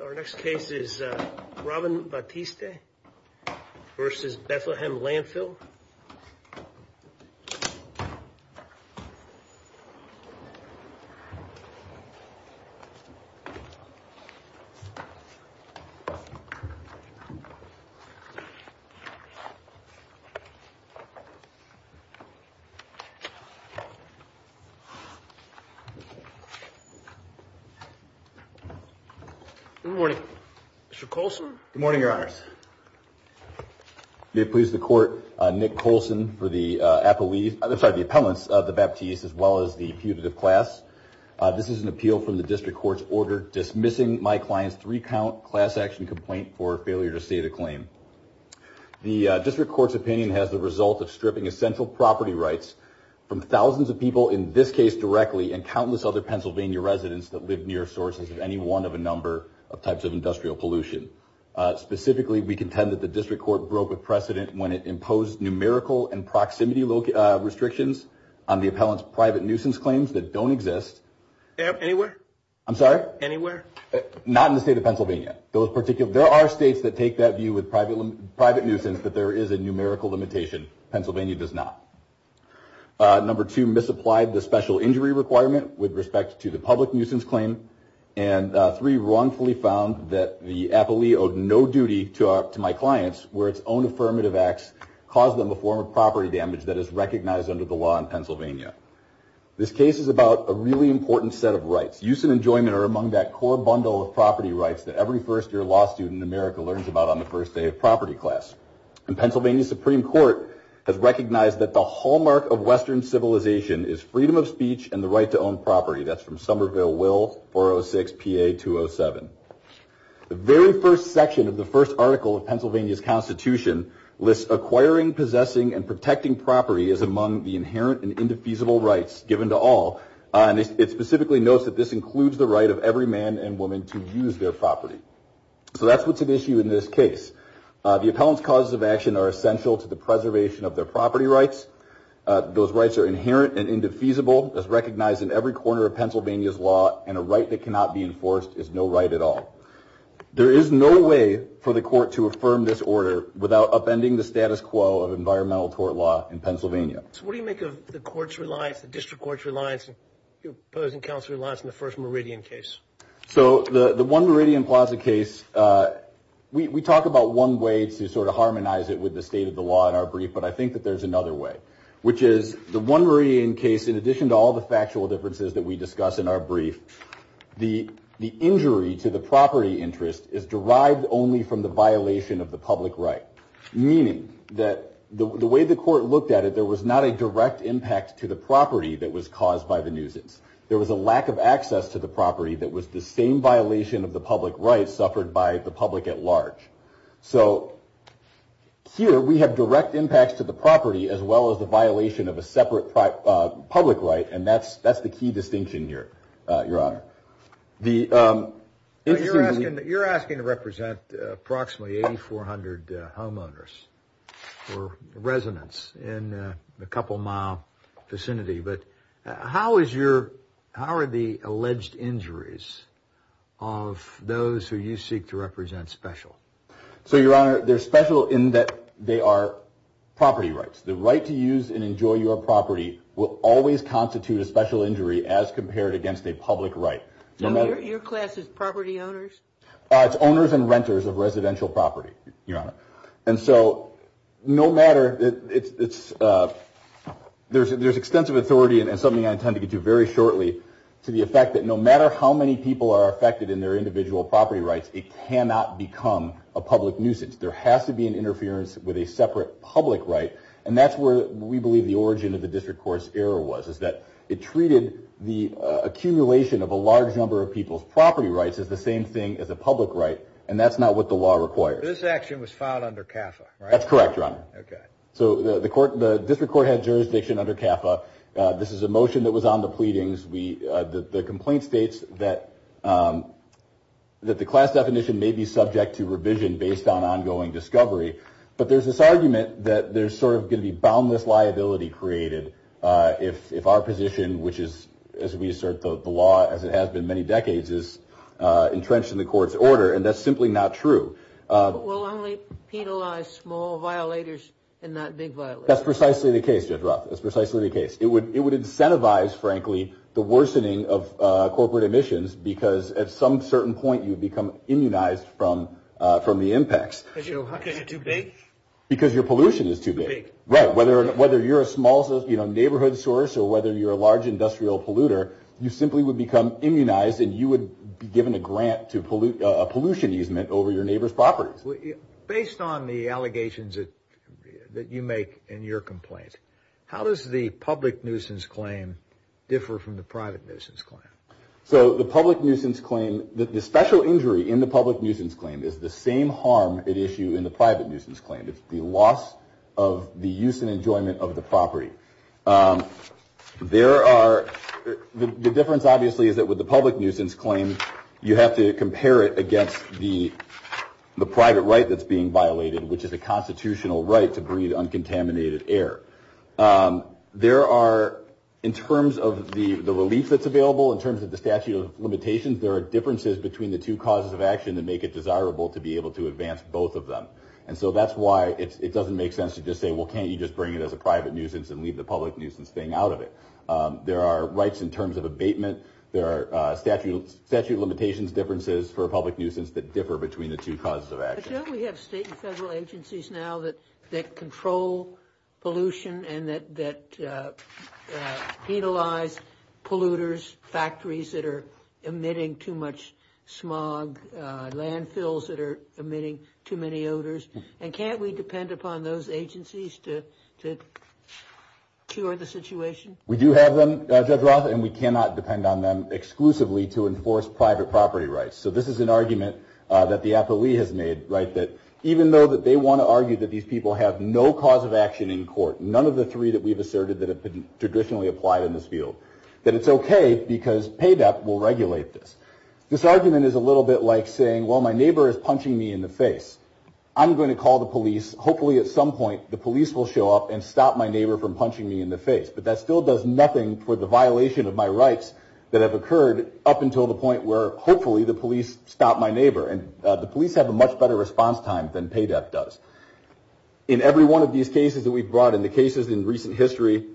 Our next case is Robin Batiste versus Bethlehem Landfill Good morning. Mr. Coulson? Good morning, Your Honors. May it please the Court, Nick Coulson for the appellate, I'm sorry, the appellants of the Batiste as well as the putative class. This is an appeal from the District Court's order dismissing my client's three-count class action complaint for failure to state a claim. The District Court's opinion has the result of stripping essential property rights from thousands of people, in this case directly, and countless other Pennsylvania residents that live near sources of any one of a number of types of industrial pollution. Specifically, we contend that the District Court broke with precedent when it imposed numerical and proximity restrictions on the appellant's private nuisance claims that don't exist. Anywhere? I'm sorry? Anywhere? Not in the state of Pennsylvania. There are states that take that view with private nuisance that there is a numerical limitation. Pennsylvania does not. Number two, misapplied the special injury requirement with respect to the public nuisance claim. And three, wrongfully found that the appellee owed no duty to my clients, where its own affirmative acts caused them a form of property damage that is recognized under the law in Pennsylvania. This case is about a really important set of rights. Use and enjoyment are among that core bundle of property rights that every first-year law student in America learns about on the first day of property class. And Pennsylvania Supreme Court has recognized that the hallmark of Western civilization is freedom of speech and the right to own property. That's from Somerville Will, 406 PA 207. The very first section of the first article of Pennsylvania's Constitution lists acquiring, possessing, and protecting property as among the inherent and indefeasible rights given to all. And it specifically notes that this includes the right of every man and woman to use their property. So that's what's at issue in this case. The appellant's causes of action are essential to the preservation of their property rights. Those rights are inherent and indefeasible, as recognized in every corner of Pennsylvania's law, and a right that cannot be enforced is no right at all. There is no way for the court to affirm this order without upending the status quo of environmental tort law in Pennsylvania. So what do you make of the court's reliance, the district court's reliance, your opposing counsel's reliance on the first Meridian case? So the one Meridian Plaza case, we talk about one way to sort of harmonize it with the state of the law in our brief, but I think that there's another way, which is the one Meridian case, in addition to all the factual differences that we discuss in our brief, the injury to the property interest is derived only from the violation of the public right. Meaning that the way the court looked at it, there was not a direct impact to the property that was caused by the nuisance. There was a lack of access to the property that was the same violation of the public rights suffered by the public at large. So here we have direct impacts to the property as well as the violation of a separate public right, and that's the key distinction here, your honor. You're asking to represent approximately 8,400 homeowners or residents in a couple mile vicinity, but how is your, how are the alleged injuries of those who you seek to represent special? So your honor, they're special in that they are property rights. The right to use and enjoy your property will always constitute a special injury as compared against a public right. Your class is property owners? It's owners and renters of residential property, your honor. And so no matter, it's, there's extensive authority and something I intend to get to very shortly, to the effect that no matter how many people are affected in their individual property rights, it cannot become a public nuisance. There has to be an interference with a separate public right, and that's where we believe the origin of the district court's error was, is that it treated the accumulation of a large number of people's property rights as the same thing as a public right, and that's not what the law requires. This action was filed under CAFA, right? That's correct, your honor. So the court, the district court had jurisdiction under CAFA. This is a motion that was on the pleadings. We, the complaint states that, that the class definition may be subject to revision based on ongoing discovery, but there's this argument that there's sort of going to be boundless liability created if our position, which is, as we assert the law, as it has been many decades, is entrenched in the court's order, and that's simply not true. We'll only penalize small violators and not big violators. That's precisely the case, Judge Roth. That's precisely the case. It would incentivize, frankly, the worsening of corporate emissions because at some certain point you'd become immunized from the impacts. Because you're too big? Because your pollution is too big. Too big. Right. Whether you're a small neighborhood source or whether you're a large industrial polluter, you simply would become immunized and you would be given a grant to pollute, a pollution easement over your neighbor's property. Based on the allegations that you make in your complaint, how does the public nuisance claim differ from the private nuisance claim? So the public nuisance claim, the special injury in the public nuisance claim is the same harm at issue in the private nuisance claim. It's the loss of the use and enjoyment of the property. There are, the difference obviously is that with the public nuisance claim, you have to compare it against the private right that's being violated, which is a constitutional right to breathe uncontaminated air. There are, in terms of the relief that's available, in terms of the statute of limitations, there are differences between the two causes of action that make it desirable to be able to advance both of them. And so that's why it doesn't make sense to just say, well, can't you just bring it as a private nuisance and leave the public nuisance thing out of it? There are rights in terms of abatement. There are statute of limitations differences for public nuisance that differ between the two causes of action. But don't we have state and federal agencies now that control pollution and that penalize polluters, factories that are emitting too much smog, landfills that are emitting too many odors? And can't we depend upon those agencies to cure the situation? We do have them, Judge Roth, and we cannot depend on them exclusively to enforce private property rights. So this is an argument that the APALE has made, right, that even though that they want to argue that these people have no cause of action in court, none of the three that we've asserted that have been traditionally applied in this field, that it's OK because PADEP will regulate this. This argument is a little bit like saying, well, my neighbor is punching me in the face. I'm going to call the police. Hopefully, at some point, the police will show up and stop my neighbor from punching me in the face. But that still does nothing for the violation of my rights that have occurred up until the point where, hopefully, the police stop my neighbor. And the police have a much better response time than PADEP does. In every one of these cases that we've brought, in the cases in recent history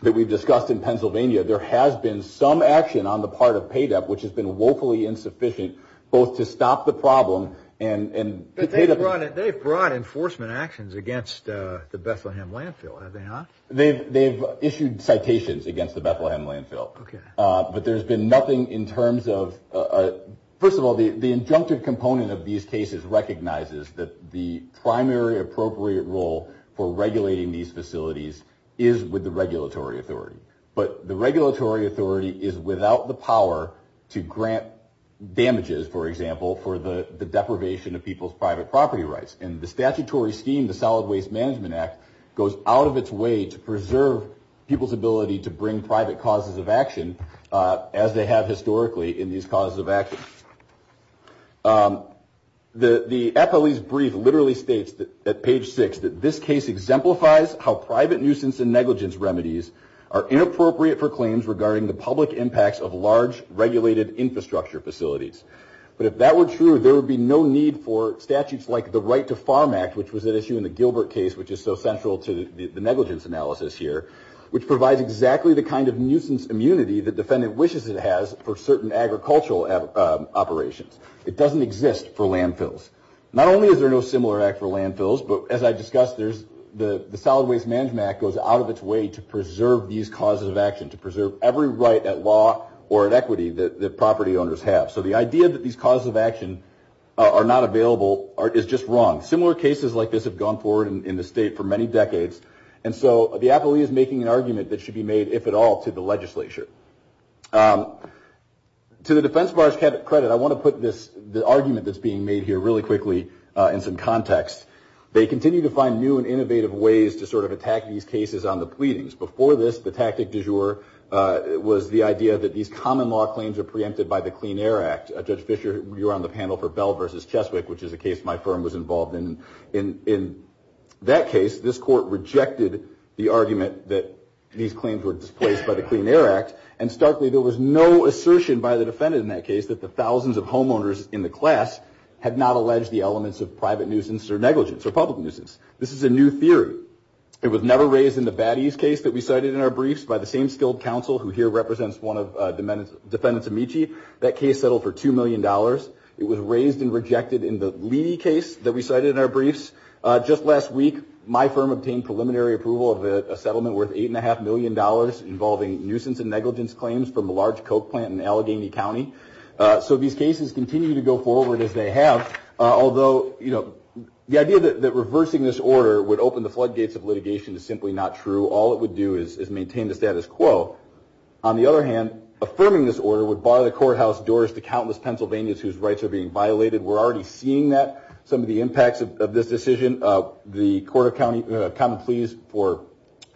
that we've discussed in Pennsylvania, there has been some action on the part of PADEP, which has been woefully insufficient, both to stop the problem and... They've brought enforcement actions against the Bethlehem landfill, have they not? They've issued citations against the Bethlehem landfill. But there's been nothing in terms of... First of all, the injunctive component of these cases recognizes that the primary appropriate role for regulating these facilities is with the regulatory authority. But the regulatory authority is without the power to grant damages, for example, for the private property rights. And the statutory scheme, the Solid Waste Management Act, goes out of its way to preserve people's ability to bring private causes of action, as they have historically in these causes of action. The FLE's brief literally states, at page six, that this case exemplifies how private nuisance and negligence remedies are inappropriate for claims regarding the public impacts of large regulated infrastructure facilities. But if that were true, there would be no need for statutes like the Right to Farm Act, which was at issue in the Gilbert case, which is so central to the negligence analysis here, which provides exactly the kind of nuisance immunity the defendant wishes it has for certain agricultural operations. It doesn't exist for landfills. Not only is there no similar act for landfills, but as I discussed, the Solid Waste Management Act goes out of its way to preserve these causes of action, to preserve every right at law or at equity that property owners have. So the idea that these causes of action are not available is just wrong. Similar cases like this have gone forward in the state for many decades. And so the FLE is making an argument that should be made, if at all, to the legislature. To the defense bar's credit, I want to put the argument that's being made here really quickly in some context. They continue to find new and innovative ways to sort of attack these cases on the pleadings. Before this, the tactic du jour was the idea that these common law claims are preempted by the Clean Air Act. Judge Fisher, you were on the panel for Bell versus Cheswick, which is a case my firm was involved in. In that case, this court rejected the argument that these claims were displaced by the Clean Air Act. And starkly, there was no assertion by the defendant in that case that the thousands of homeowners in the class had not alleged the elements of private nuisance or negligence or public nuisance. This is a new theory. It was never raised in the Batty's case that we cited in our briefs by the same skilled counsel who here represents one of defendants' amici. That case settled for $2 million. It was raised and rejected in the Leedy case that we cited in our briefs. Just last week, my firm obtained preliminary approval of a settlement worth $8.5 million involving nuisance and negligence claims from a large coke plant in Allegheny County. So these cases continue to go forward as they have, although the idea that reversing this order would open the floodgates of litigation is simply not true. All it would do is maintain the status quo. On the other hand, affirming this order would bar the courthouse doors to countless Pennsylvanians whose rights are being violated. We're already seeing that, some of the impacts of this decision. The Court of Common Pleas for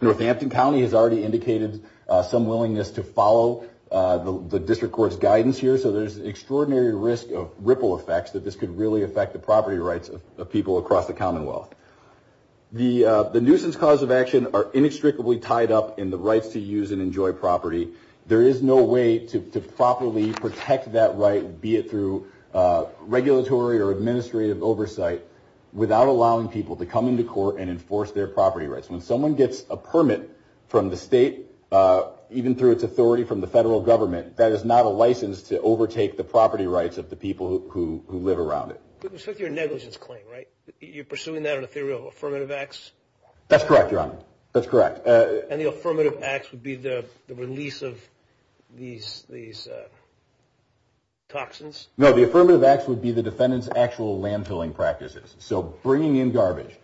Northampton County has already indicated some willingness to follow the district court's guidance here. So there's an extraordinary risk of ripple effects that this could really affect the property rights of people across the Commonwealth. The nuisance cause of action are inextricably tied up in the rights to use and enjoy property. There is no way to properly protect that right, be it through regulatory or administrative oversight, without allowing people to come into court and enforce their property rights. When someone gets a permit from the state, even through its authority from the federal government, that is not a license to overtake the property rights of the people who live around it. With respect to your negligence claim, right, you're pursuing that on a theory of affirmative acts? That's correct, Your Honor. That's correct. And the affirmative acts would be the release of these toxins? No, the affirmative acts would be the defendant's actual landfilling practices. So bringing in garbage,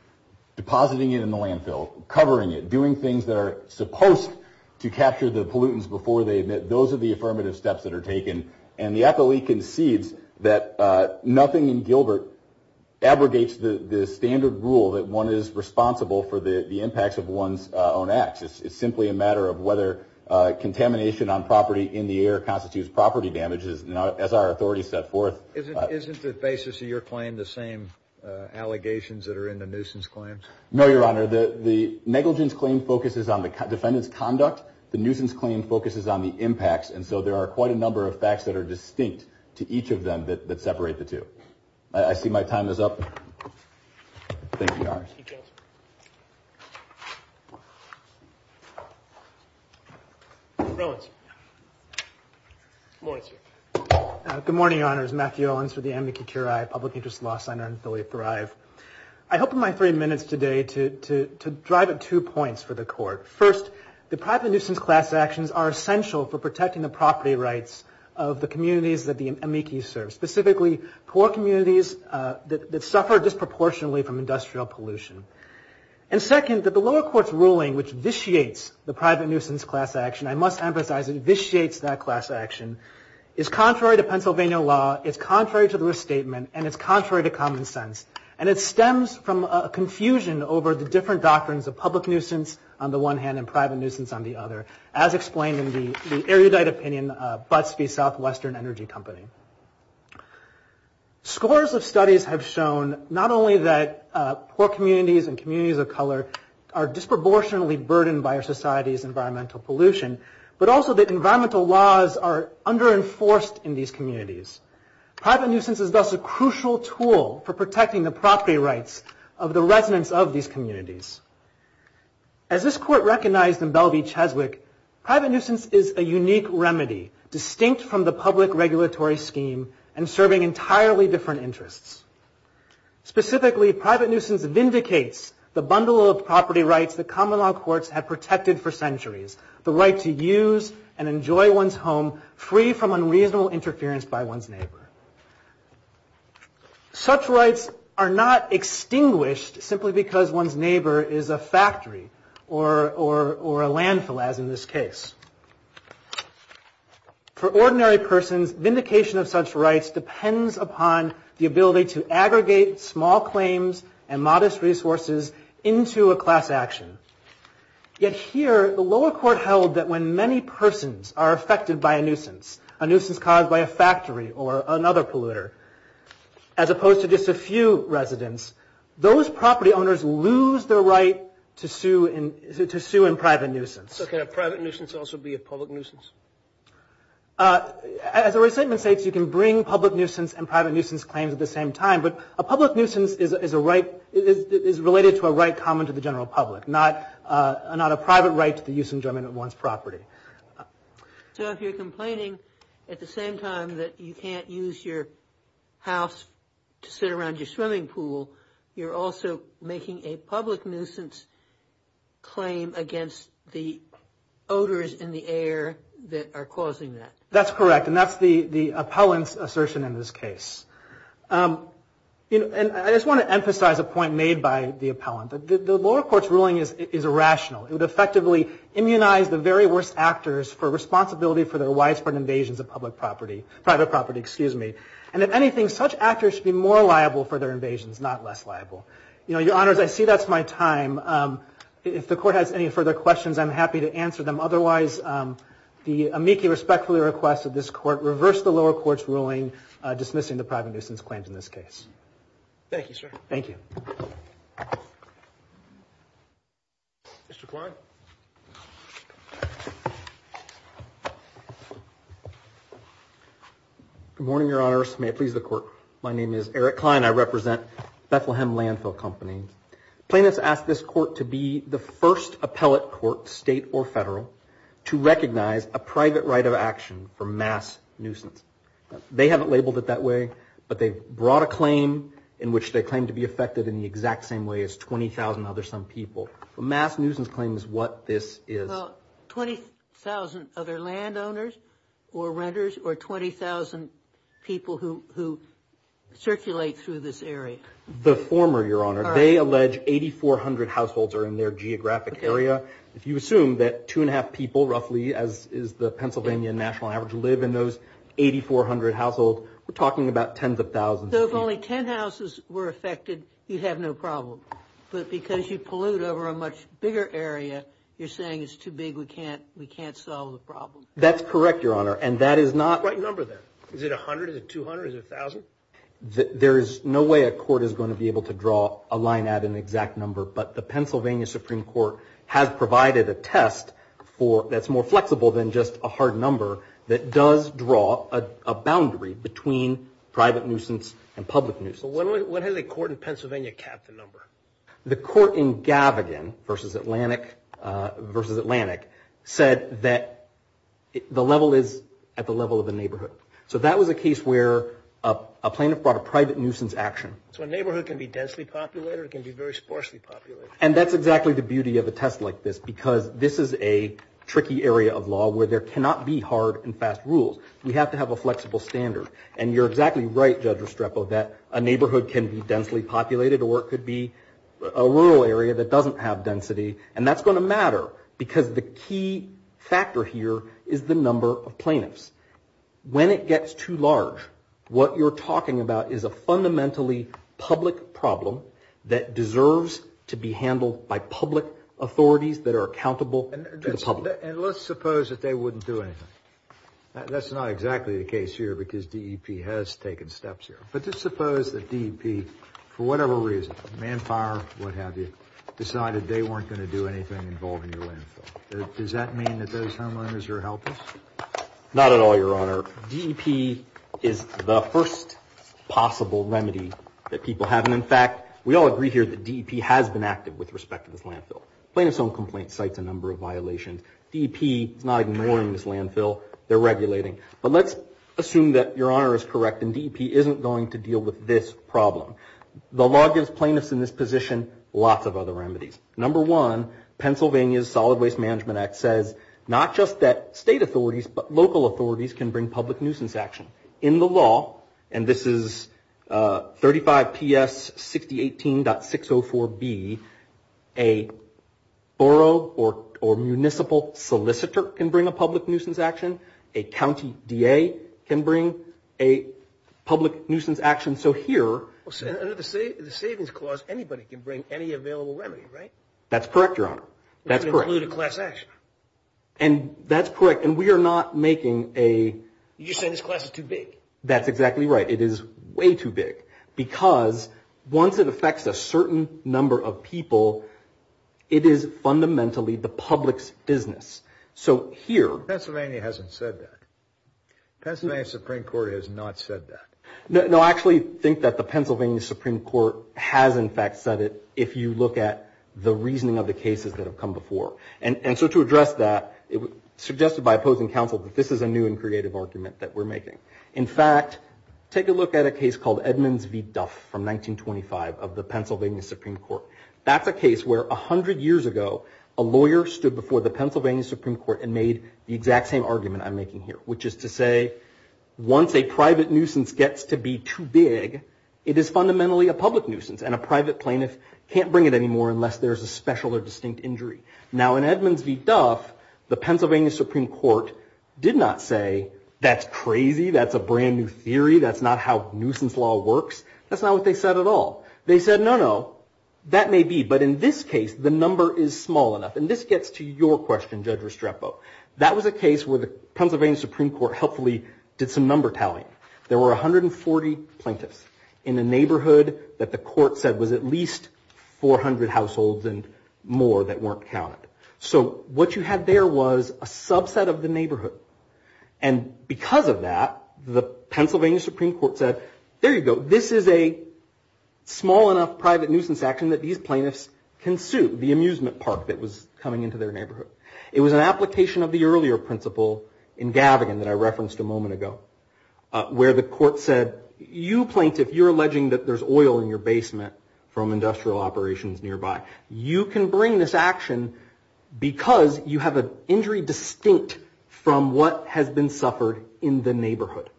depositing it in the landfill, covering it, doing things that are supposed to capture the pollutants before they emit, those are the affirmative steps that are taken. And the FLE concedes that nothing in Gilbert abrogates the standard rule that one is responsible for the impacts of one's own acts. It's simply a matter of whether contamination on property in the air constitutes property damages, as our authorities set forth. Isn't the basis of your claim the same allegations that are in the nuisance claim? No, Your Honor. The negligence claim focuses on the defendant's conduct. The nuisance claim focuses on the impacts. And so there are quite a number of facts that are distinct to each of them that separate the two. I see my time is up. Thank you, Your Honor. Thank you, Counselor. Rolands. Good morning, sir. Good morning, Your Honors. Matthew Rolands with the Amnesty Curia Public Interest Law Center in Philly Thrive. I hope in my three minutes today to drive at two points for the Court. First, the private nuisance class actions are essential for protecting the property rights of the communities that the amici serve, specifically poor communities that suffer disproportionately from industrial pollution. And second, that the lower court's ruling, which vitiates the private nuisance class action, I must emphasize it vitiates that class action, is contrary to Pennsylvania law, it's contrary to the restatement, and it's contrary to common sense. And it stems from a confusion over the different doctrines of public nuisance on the one hand and private nuisance on the other, as explained in the erudite opinion of Butts v. Southwestern Energy Company. Scores of studies have shown not only that poor communities and communities of color are disproportionately burdened by our society's environmental pollution, but also that environmental laws are under-enforced in these communities. Private nuisance is thus a crucial tool for protecting the property rights of the residents of these communities. As this Court recognized in Bell v. Cheswick, private nuisance is a unique remedy, distinct from the public regulatory scheme and serving entirely different interests. Specifically, private nuisance vindicates the bundle of property rights that common law courts have protected for centuries, the right to use and enjoy one's home free from unreasonable interference by one's neighbor. Such rights are not extinguished simply because one's neighbor is a factory or a landfill, as in this case. For ordinary persons, vindication of such rights depends upon the ability to aggregate small claims and modest resources into a class action. Yet here, the lower court held that when many persons are affected by a nuisance, a nuisance caused by a factory or another polluter, as opposed to just a few residents, those property owners lose their right to sue in private nuisance. So can a private nuisance also be a public nuisance? As a restatement states, you can bring public nuisance and private nuisance claims at the same time, but a public nuisance is related to a right common to the general public, not a private right to the use and enjoyment of one's property. So if you're complaining at the same time that you can't use your house to sit around your swimming pool, you're also making a public nuisance claim against the odors in the air that are causing that. That's correct. And that's the appellant's assertion in this case. And I just want to emphasize a point made by the appellant. The lower court's ruling is irrational. It would effectively immunize the very worst actors for responsibility for their widespread invasions of public property, private property, excuse me. And if anything, such actors should be more liable for their invasions, not less liable. You know, your honors, I see that's my time. If the court has any further questions, I'm happy to answer them. Otherwise, the amici respectfully request that this court reverse the lower court's ruling dismissing the private nuisance claims in this case. Thank you, sir. Thank you. Mr. Klein. Good morning, your honors. May it please the court. My name is Eric Klein. I represent Bethlehem Landfill Company. Plaintiffs ask this court to be the first appellate court, state or federal, to recognize a private right of action for mass nuisance. They haven't labeled it that way, but they've brought a claim in which they claim to be same way as 20,000 other some people. Mass nuisance claims what this is. Well, 20,000 other landowners or renters or 20,000 people who circulate through this area. The former, your honor. They allege 8,400 households are in their geographic area. If you assume that two and a half people, roughly, as is the Pennsylvania national average, live in those 8,400 households, we're talking about tens of thousands. So if only 10 houses were affected, you have no problem. But because you pollute over a much bigger area, you're saying it's too big. We can't solve the problem. That's correct, your honor. And that is not... What number then? Is it 100? Is it 200? Is it 1,000? There is no way a court is going to be able to draw a line at an exact number, but the Pennsylvania Supreme Court has provided a test that's more flexible than just a hard number that does draw a boundary between private nuisance and public nuisance. When has a court in Pennsylvania capped the number? The court in Gavigan v. Atlantic said that the level is at the level of a neighborhood. So that was a case where a plaintiff brought a private nuisance action. So a neighborhood can be densely populated or it can be very sparsely populated? And that's exactly the beauty of a test like this because this is a tricky area of hard and fast rules. We have to have a flexible standard. And you're exactly right, Judge Restrepo, that a neighborhood can be densely populated or it could be a rural area that doesn't have density. And that's going to matter because the key factor here is the number of plaintiffs. When it gets too large, what you're talking about is a fundamentally public problem that deserves to be handled by public authorities that are accountable to the public. And let's suppose that they wouldn't do anything. That's not exactly the case here because DEP has taken steps here. But just suppose that DEP, for whatever reason, manpower, what have you, decided they weren't going to do anything involving your landfill. Does that mean that those homeowners are helpless? Not at all, Your Honor. DEP is the first possible remedy that people have. And in fact, we all agree here that DEP has been active with respect to this landfill. Plaintiff's Own Complaints cites a number of violations. DEP is not ignoring this landfill. They're regulating. But let's assume that Your Honor is correct and DEP isn't going to deal with this problem. The law gives plaintiffs in this position lots of other remedies. Number one, Pennsylvania's Solid Waste Management Act says not just that state authorities, but local authorities can bring public nuisance action. In the law, and this is 35 P.S. 6018.604b, a borough or municipal solicitor can bring a public nuisance action. A county DA can bring a public nuisance action. So here, under the Savings Clause, anybody can bring any available remedy, right? That's correct, Your Honor. That's correct. And that's correct. And we are not making a... You're just saying this class is too big. That's exactly right. It is way too big because once it affects a certain number of people, it is fundamentally the public's business. So here... Pennsylvania hasn't said that. Pennsylvania Supreme Court has not said that. No, I actually think that the Pennsylvania Supreme Court has in fact said it if you look at the reasoning of the cases that have come before. that we're making. In fact, take a look at a case called Edmonds v. Duff from 1925 of the Pennsylvania Supreme Court. That's a case where 100 years ago, a lawyer stood before the Pennsylvania Supreme Court and made the exact same argument I'm making here, which is to say once a private nuisance gets to be too big, it is fundamentally a public nuisance and a private plaintiff can't bring it anymore unless there's a special or distinct injury. Now in Edmonds v. Duff, the Pennsylvania Supreme Court did not say that's crazy. That's a brand new theory. That's not how nuisance law works. That's not what they said at all. They said, no, no, that may be. But in this case, the number is small enough. And this gets to your question, Judge Restrepo. That was a case where the Pennsylvania Supreme Court helpfully did some number tallying. There were 140 plaintiffs in a neighborhood that the court said was at least 400 households and more that weren't counted. So what you had there was a subset of the neighborhood. And because of that, the Pennsylvania Supreme Court said, there you go. This is a small enough private nuisance action that these plaintiffs can sue, the amusement park that was coming into their neighborhood. It was an application of the earlier principle in Gavigan that I referenced a moment ago where the court said, you plaintiff, you're alleging that there's oil in your basement from industrial operations nearby. You can bring this action because you have an injury distinct from what has been suffered in the neighborhood.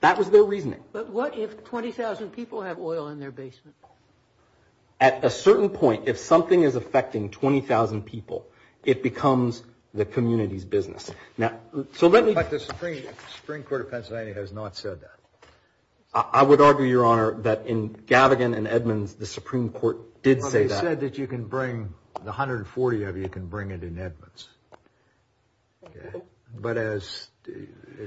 That was their reasoning. But what if 20,000 people have oil in their basement? At a certain point, if something is affecting 20,000 people, it becomes the community's business. Now, so let me But the Supreme Court of Pennsylvania has not said that. I would argue, Your Honor, that in Gavigan and Edmonds, the Supreme Court did say that. You can bring the 140 of you can bring it in Edmonds. But as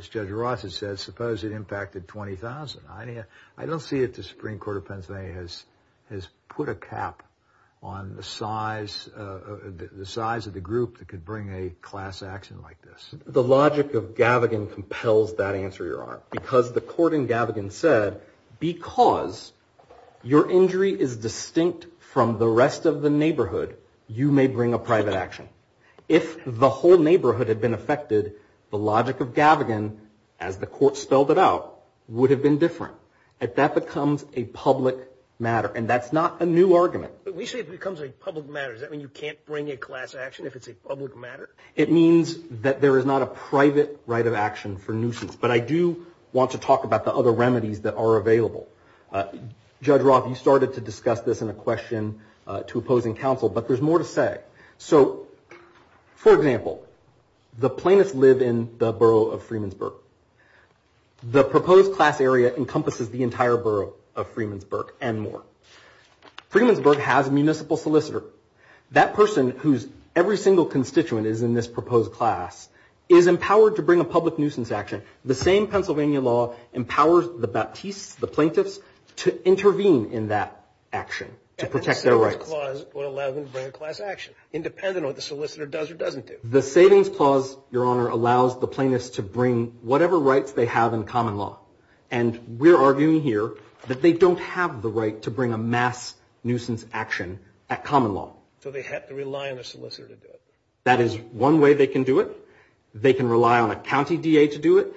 Judge Ross has said, suppose it impacted 20,000. I don't see if the Supreme Court of Pennsylvania has put a cap on the size of the group that could bring a class action like this. The logic of Gavigan compels that answer, Your Honor, because the court in Gavigan said, Because your injury is distinct from the rest of the neighborhood, you may bring a private action. If the whole neighborhood had been affected, the logic of Gavigan, as the court spelled it out, would have been different. That becomes a public matter. And that's not a new argument. We say it becomes a public matter. Does that mean you can't bring a class action if it's a public matter? It means that there is not a private right of action for nuisance. But I do want to talk about the other remedies that are available. Judge Ross, you started to discuss this in a question to opposing counsel, but there's more to say. So for example, the plaintiffs live in the borough of Freemansburg. The proposed class area encompasses the entire borough of Freemansburg and more. Freemansburg has a municipal solicitor. That person, whose every single constituent is in this proposed class, is empowered to bring a public nuisance action. The same Pennsylvania law empowers the Baptistes, the plaintiffs, to intervene in that action to protect their rights. And the Savings Clause would allow them to bring a class action, independent of what the solicitor does or doesn't do. The Savings Clause, Your Honor, allows the plaintiffs to bring whatever rights they have in common law. And we're arguing here that they don't have the right to bring a mass nuisance action at common law. So they have to rely on a solicitor to do it. That is one way they can do it. They can rely on a county DA to do it.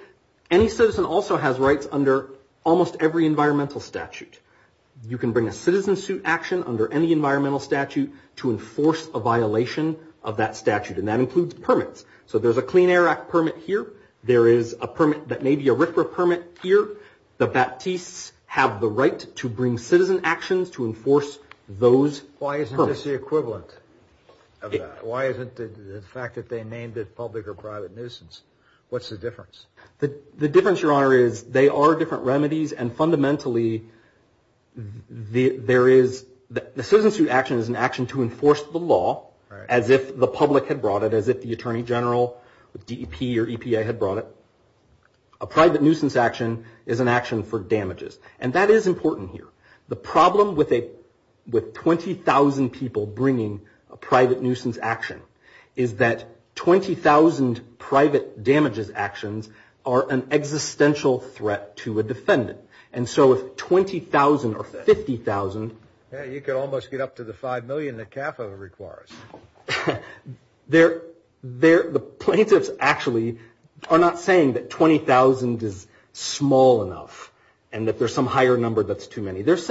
Any citizen also has rights under almost every environmental statute. You can bring a citizen suit action under any environmental statute to enforce a violation of that statute. And that includes permits. So there's a Clean Air Act permit here. There is a permit that may be a RFRA permit here. The Baptistes have the right to bring citizen actions to enforce those permits. Why isn't this the equivalent of that? Why isn't the fact that they named it public or private nuisance? What's the difference? The difference, Your Honor, is they are different remedies. And fundamentally, the citizen suit action is an action to enforce the law as if the public had brought it, as if the Attorney General, DEP, or EPA had brought it. A private nuisance action is an action for damages. And that is important here. The problem with 20,000 people bringing a private nuisance action is that 20,000 private damages actions are an existential threat to a defendant. And so if 20,000 or 50,000... Yeah, you could almost get up to the 5 million that CAFA requires. The plaintiffs actually are not saying that 20,000 is small enough and that there's some higher number that's too many. There's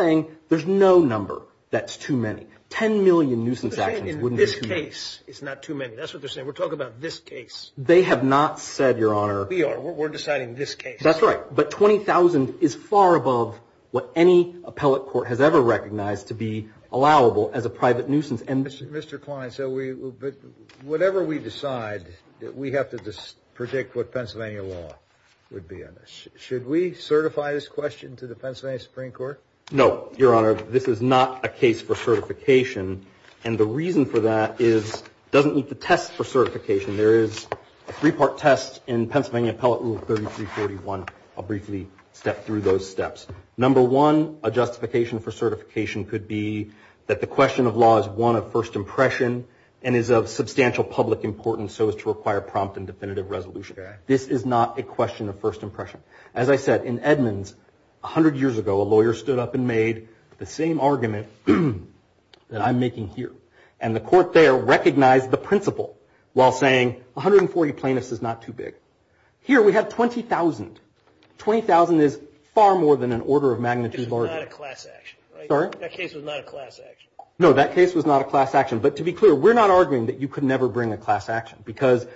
no number that's too many. 10 million nuisance actions wouldn't be too many. They're saying in this case, it's not too many. That's what they're saying. We're talking about this case. They have not said, Your Honor... We are. We're deciding this case. That's right. But 20,000 is far above what any appellate court has ever recognized to be allowable as a private nuisance. And... Mr. Klein, so we... Whatever we decide, we have to predict what Pennsylvania law would be on this. Should we certify this question to the Pennsylvania Supreme Court? No, Your Honor. This is not a case for certification. And the reason for that is it doesn't meet the test for certification. There is a three-part test in Pennsylvania Appellate Rule 3341. I'll briefly step through those steps. Number one, a justification for certification could be that the question of law is one of first impression and is of substantial public importance so as to require prompt and definitive resolution. This is not a question of first impression. As I said, in Edmonds, 100 years ago, a lawyer stood up and made the same argument that I'm making here. And the court there recognized the principle while saying 140 plaintiffs is not too big. Here, we have 20,000. 20,000 is far more than an order of magnitude larger. It's not a class action, right? Sorry? That case was not a class action. No, that case was not a class action. But to be clear, we're not arguing that you could never bring a class action because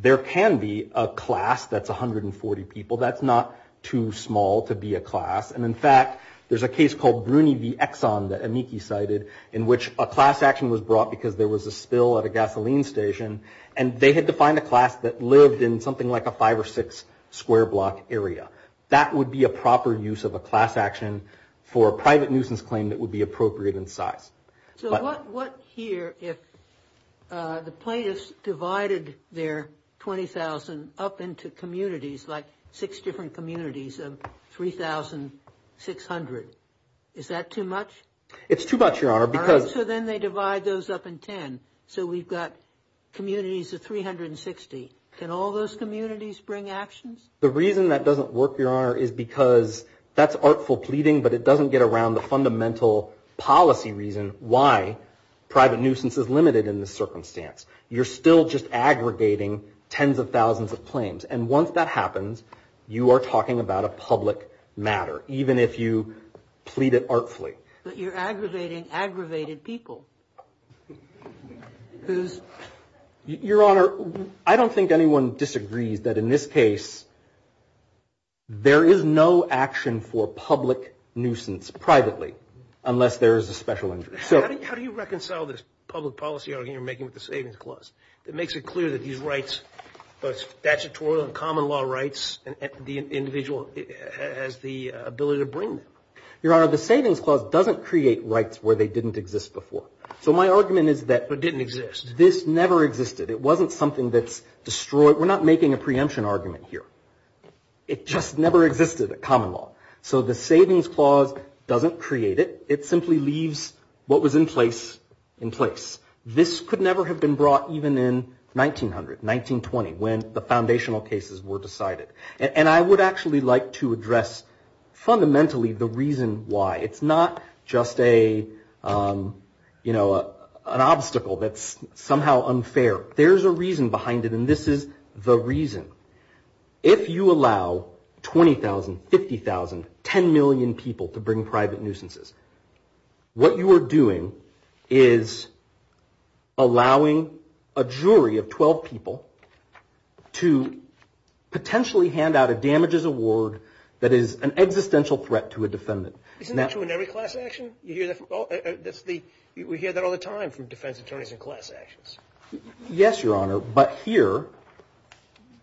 there can be a class that's 140 people. That's not too small to be a class. And in fact, there's a case called Bruny v. Exxon that Amiki cited in which a class action was brought because there was a spill at a gasoline station and they had to find a class that lived in something like a five or six square block area. That would be a proper use of a class action for a private nuisance claim that would be appropriate in size. So what here if the plaintiffs divided their 20,000 up into communities like six different communities of 3,600, is that too much? It's too much, Your Honor, because... So then they divide those up in 10. So we've got communities of 360. Can all those communities bring actions? The reason that doesn't work, Your Honor, is because that's artful pleading, but it why private nuisance is limited in this circumstance. You're still just aggregating tens of thousands of claims. And once that happens, you are talking about a public matter, even if you plead it artfully. But you're aggravating aggravated people. Who's... Your Honor, I don't think anyone disagrees that in this case, there is no action for public nuisance privately unless there is a special injury. How do you reconcile this public policy argument you're making with the Savings Clause that makes it clear that these rights, both statutory and common law rights, the individual has the ability to bring them? Your Honor, the Savings Clause doesn't create rights where they didn't exist before. So my argument is that... But didn't exist. This never existed. It wasn't something that's destroyed. We're not making a preemption argument here. It just never existed at common law. So the Savings Clause doesn't create it. It simply leaves what was in place in place. This could never have been brought even in 1900, 1920, when the foundational cases were decided. And I would actually like to address fundamentally the reason why. It's not just an obstacle that's somehow unfair. There's a reason behind it, and this is the reason. If you allow 20,000, 50,000, 10 million people to bring private nuisances, what you are doing is allowing a jury of 12 people to potentially hand out a damages award that is an existential threat to a defendant. Isn't that true in every class action? We hear that all the time from defense attorneys in class actions. Yes, Your Honor. But here,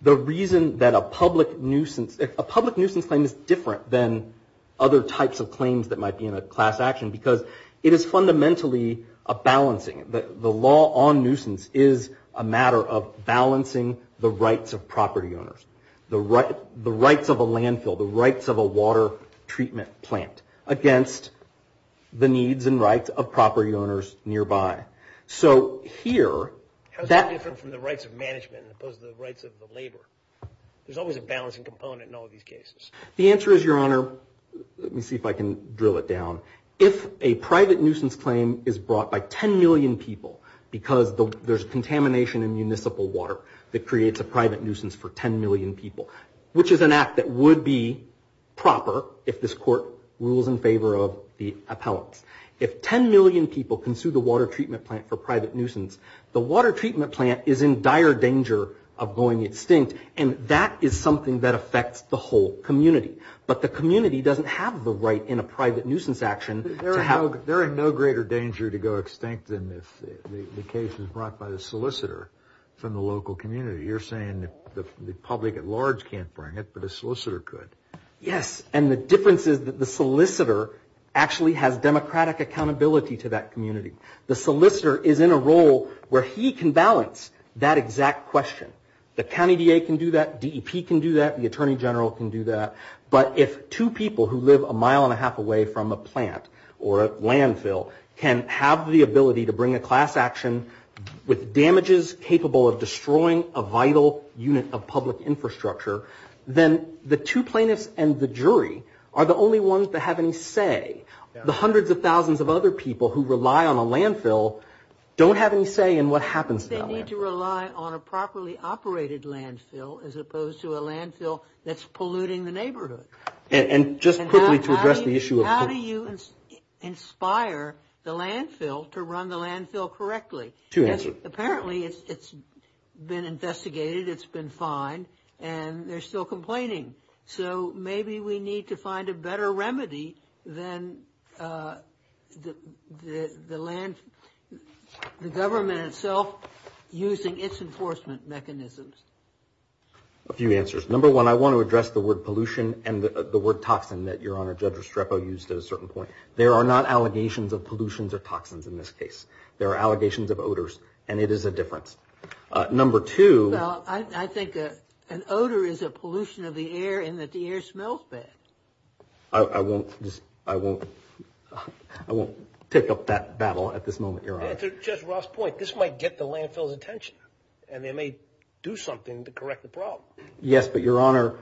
the reason that a public nuisance... A public nuisance claim is different than other types of claims that might be in a class action because it is fundamentally a balancing. The law on nuisance is a matter of balancing the rights of property owners, the rights of a landfill, the rights of a water treatment plant against the needs and rights of property owners nearby. So here... How is that different from the rights of management as opposed to the rights of the labor? There's always a balancing component in all of these cases. The answer is, Your Honor... Let me see if I can drill it down. If a private nuisance claim is brought by 10 million people because there's contamination in municipal water that creates a private nuisance for 10 million people, which is an act that would be proper if this court rules in favor of the appellants. If 10 million people can sue the water treatment plant for private nuisance, the water treatment plant is in dire danger of going extinct, and that is something that affects the whole community. But the community doesn't have the right in a private nuisance action to have... There is no greater danger to go extinct than if the case is brought by the solicitor from the local community. You're saying the public at large can't bring it, but a solicitor could. Yes. And the difference is that the solicitor actually has democratic accountability to that community. The solicitor is in a role where he can balance that exact question. The county DA can do that. DEP can do that. The attorney general can do that. But if two people who live a mile and a half away from a plant or a landfill can have the ability to bring a class action with damages capable of destroying a vital unit of public infrastructure, then the two plaintiffs and the jury are the only ones that have any say. The hundreds of thousands of other people who rely on a landfill don't have any say in what happens to that landfill. They need to rely on a properly operated landfill as opposed to a landfill that's polluting the neighborhood. And just quickly to address the issue of... How do you inspire the landfill to run the landfill correctly? Two answers. Apparently, it's been investigated. It's been fined. And they're still complaining. So maybe we need to find a better remedy than the government itself using its enforcement mechanisms. A few answers. Number one, I want to address the word pollution and the word toxin that Your Honor, Judge Restrepo used at a certain point. There are not allegations of pollutions or toxins in this case. There are allegations of odors. And it is a difference. Number two... Well, I think an odor is a pollution of the air in that the air smells bad. I won't take up that battle at this moment, Your Honor. And to Judge Ross's point, this might get the landfill's attention. And they may do something to correct the problem. Yes, but Your Honor,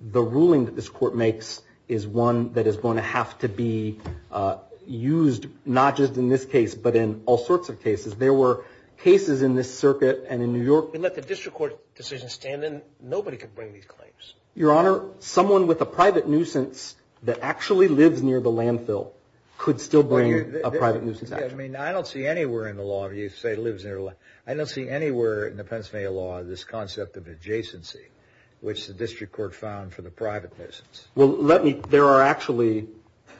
the ruling that this court makes is one that is going to have to be used not just in this case, but in all sorts of cases. There were cases in this circuit and in New York. If we let the district court decision stand, then nobody could bring these claims. Your Honor, someone with a private nuisance that actually lives near the landfill could still bring a private nuisance action. I mean, I don't see anywhere in the law if you say lives near a landfill. I don't see anywhere in the Pennsylvania law this concept of adjacency, which the district court found for the private nuisance. Well, let me... There are actually...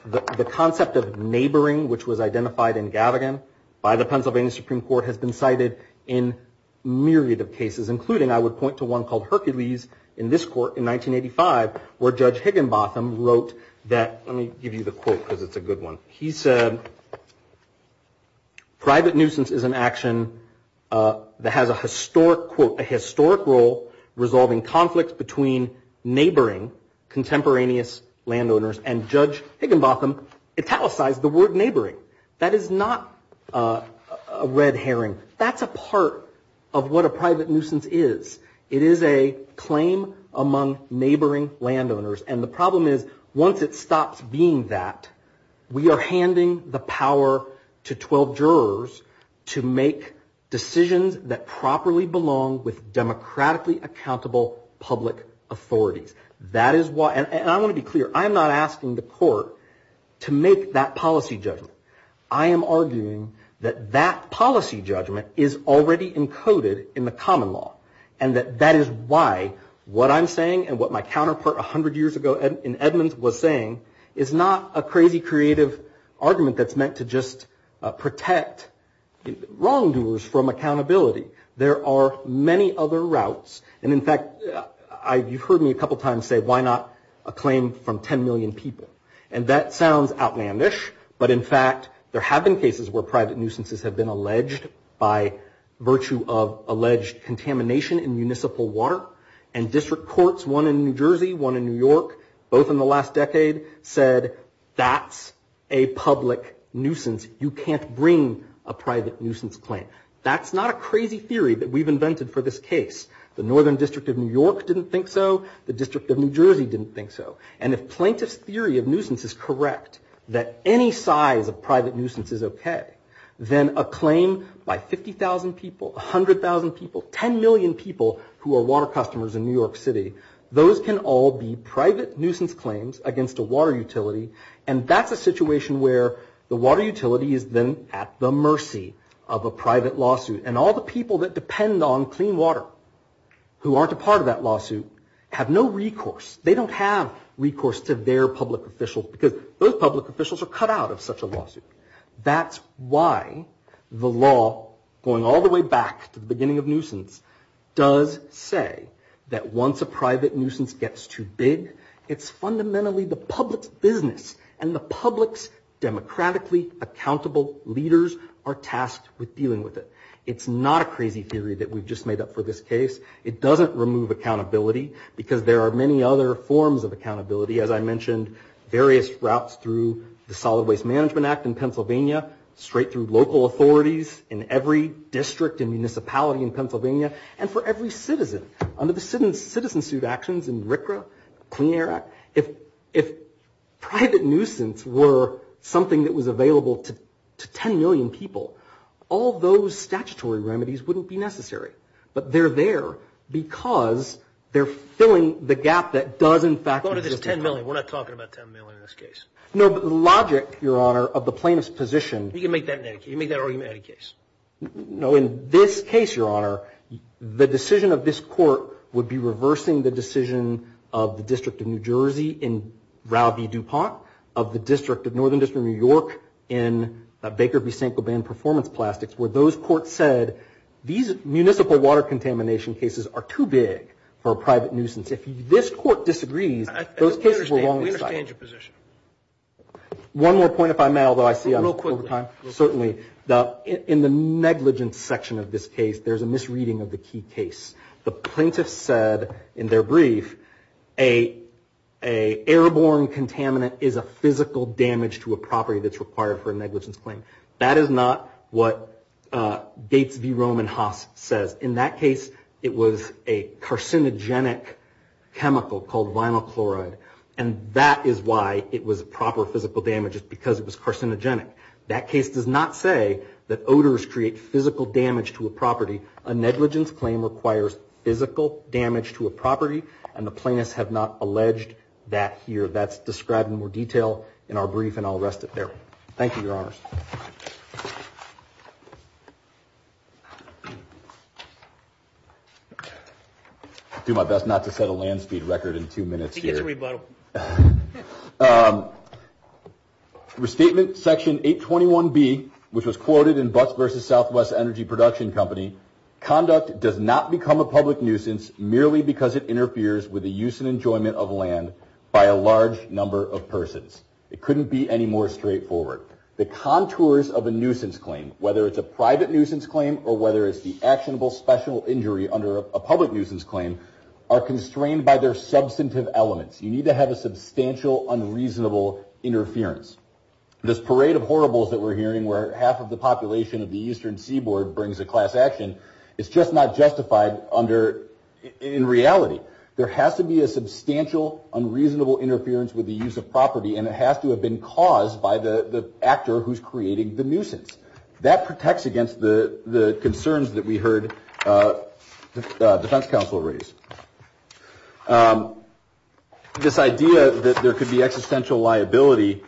The concept of neighboring, which was identified in Gavigan by the Pennsylvania Supreme Court has been cited in myriad of cases, including I would point to one called Hercules in this court in 1985, where Judge Higginbotham wrote that... Let me give you the quote because it's a good one. He said, private nuisance is an action that has a historic quote, a historic role resolving conflicts between neighboring contemporaneous landowners. And Judge Higginbotham italicized the word neighboring. That is not a red herring. That's a part of what a private nuisance is. It is a claim among neighboring landowners. And the problem is once it stops being that, we are handing the power to 12 jurors to make decisions that properly belong with democratically accountable public authorities. That is why... And I want to be clear. I'm not asking the court to make that policy judgment. I am arguing that that policy judgment is already encoded in the common law and that that is why what I'm saying and what my counterpart 100 years ago in Edmonds was saying is not a crazy creative argument that's meant to just protect wrongdoers from accountability. There are many other routes. And in fact, you've heard me a couple of times say, why not a claim from 10 million people? And that sounds outlandish. But in fact, there have been cases where private nuisances have been alleged by virtue of alleged contamination in municipal water. And district courts, one in New Jersey, one in New York, both in the last decade, said that's a public nuisance. You can't bring a private nuisance claim. That's not a crazy theory that we've invented for this case. The Northern District of New York didn't think so. The District of New Jersey didn't think so. And if plaintiff's theory of nuisance is correct, that any size of private nuisance is okay, then a claim by 50,000 people, 100,000 people, 10 million people who are water customers in New York City, those can all be private nuisance claims against a water utility. And that's a situation where the water utility is then at the mercy of a private lawsuit. And all the people that depend on clean water who aren't a part of that lawsuit have no recourse. They don't have recourse to their public officials, because those public officials are cut out of such a lawsuit. That's why the law, going all the way back to the beginning of nuisance, does say that once a private nuisance gets too big, it's fundamentally the public's business. And the public's democratically accountable leaders are tasked with dealing with it. It's not a crazy theory that we've just made up for this case. It doesn't remove accountability, because there are many other forms of accountability. As I mentioned, various routes through the Solid Waste Management Act in Pennsylvania, straight through local authorities in every district and municipality in Pennsylvania, and for every citizen. Under the citizen suit actions in RCRA, Clean Air Act, if private nuisance were something that was available to 10 million people, all those statutory remedies wouldn't be necessary. But they're there because they're filling the gap that does, in fact, 10 million. We're not talking about 10 million in this case. No, but logic, Your Honor, of the plaintiff's position. You can make that argument in any case. No, in this case, Your Honor, the decision of this court would be reversing the decision of the District of New Jersey in Rowby-Dupont, of the District of Northern District of New York in Baker v. Saint-Gobain Performance Plastics, where those courts said, these municipal water contamination cases are too big for a private nuisance. If this court disagrees, those cases were wrongly cited. We understand your position. One more point, if I may, although I see I'm over time. Certainly, in the negligence section of this case, there's a misreading of the key case. The plaintiff said in their brief, an airborne contaminant is a physical damage to a property that's required for a negligence claim. That is not what Gates v. Roman Haas says. In that case, it was a carcinogenic chemical called vinyl chloride, and that is why it was proper physical damage, because it was carcinogenic. That case does not say that odors create physical damage to a property. A negligence claim requires physical damage to a property, and the plaintiffs have not alleged that here. That's described in more detail in our brief, and I'll rest it there. Thank you, Your Honors. I'll do my best not to set a land speed record in two minutes here. I think it's rebuttable. Restatement section 821B, which was quoted in Butts v. Southwest Energy Production Company, conduct does not become a public nuisance merely because it interferes with the use and enjoyment of land by a large number of persons. It couldn't be any more straightforward. The contours of a nuisance claim, whether it's a private nuisance claim or whether it's the actionable special injury under a public nuisance claim, are constrained by their substantive elements. You need to have a substantial, unreasonable interference. This parade of horribles that we're hearing where half of the population of the Eastern Seaboard brings a class action, it's just not justified in reality. There has to be a substantial, unreasonable interference with the use of property, and it has to have been caused by the actor who's creating the nuisance. That protects against the concerns that we heard the defense counsel raise. This idea that there could be existential liability,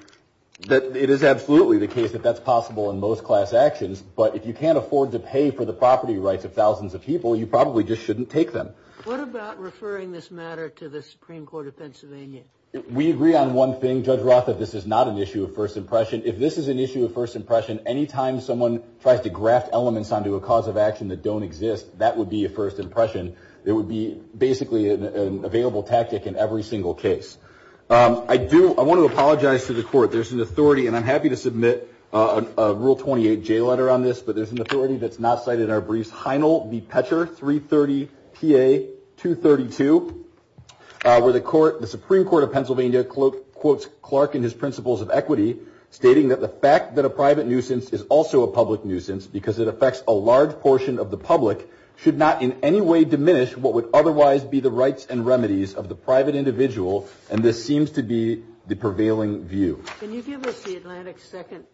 that it is absolutely the case that that's possible in most class actions, but if you can't afford to pay for the property rights of thousands of people, you probably just shouldn't take them. What about referring this matter to the Supreme Court of Pennsylvania? We agree on one thing, Judge Roth, that this is not an issue of first impression. If this is an issue of first impression, any time someone tries to graft elements onto a cause of action that don't exist, that would be a first impression. There would be basically an available tactic in every single case. I want to apologize to the court. There's an authority, and I'm happy to submit a Rule 28 J letter on this, but there's an authority that's not cited in our briefs, Heinel v. Petscher 330 PA 232, where the Supreme Court of Pennsylvania quotes Clark and his principles of equity, stating that the fact that a private nuisance is also a public nuisance because it affects a large portion of the public should not in any way diminish what would otherwise be the rights and remedies of the private individual, and this seems to be the prevailing view. Can you give us the Atlantic second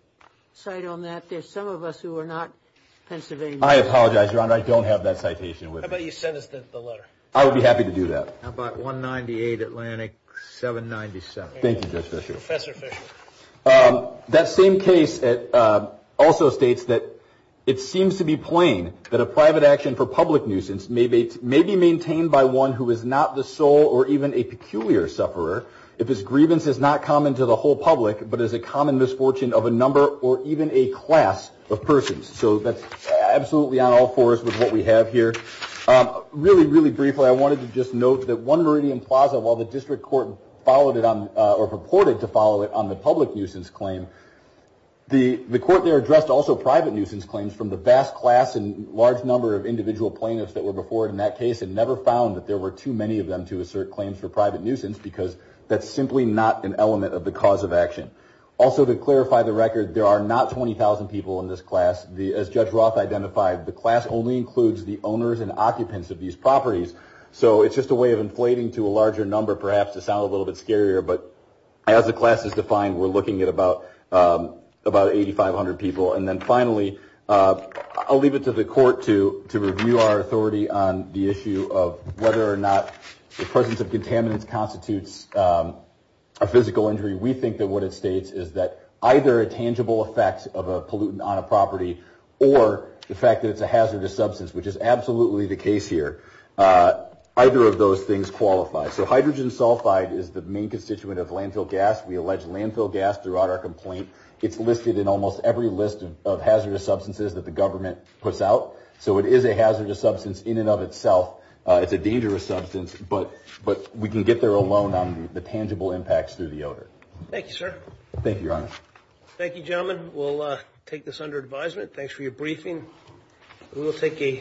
side on that? There's some of us who are not Pennsylvania. I apologize, Your Honor, I don't have that citation with me. How about you send us the letter? I would be happy to do that. How about 198 Atlantic 797? Thank you, Judge Fisher. Professor Fisher. That same case also states that it seems to be plain that a private action for public nuisance may be maintained by one who is not the sole or even a peculiar sufferer if his grievance is not common to the whole public but is a common misfortune of a number or even a class of persons. So that's absolutely on all fours with what we have here. Really, really briefly, I wanted to just note that one Meridian Plaza, while the district court followed it on or purported to follow it on the public nuisance claim, the court there addressed also private nuisance claims from the vast class and large number of individual plaintiffs that were before it in that case and never found that there were too many of them to assert claims for private nuisance because that's simply not an element of the cause of action. Also, to clarify the record, there are not 20,000 people in this class. As Judge Roth identified, the class only includes the owners and occupants of these properties. So it's just a way of inflating to a larger number, perhaps to sound a little bit scarier, but as the class is defined, we're looking at about 8,500 people. And then finally, I'll leave it to the court to review our authority on the issue of whether or not the presence of contaminants constitutes a physical injury. We think that what it states is that either a tangible effect of a pollutant on a property or the fact that it's a hazardous substance, which is absolutely the case here, either of those things qualify. So hydrogen sulfide is the main constituent of landfill gas. We allege landfill gas throughout our complaint. It's listed in almost every list of hazardous substances that the government puts out. So it is a hazardous substance in and of itself. It's a dangerous substance, but we can get there alone on the tangible impacts through the odor. Thank you, sir. Thank you, Your Honor. Thank you, gentlemen. We'll take this under advisement. Thanks for your briefing. We'll take a...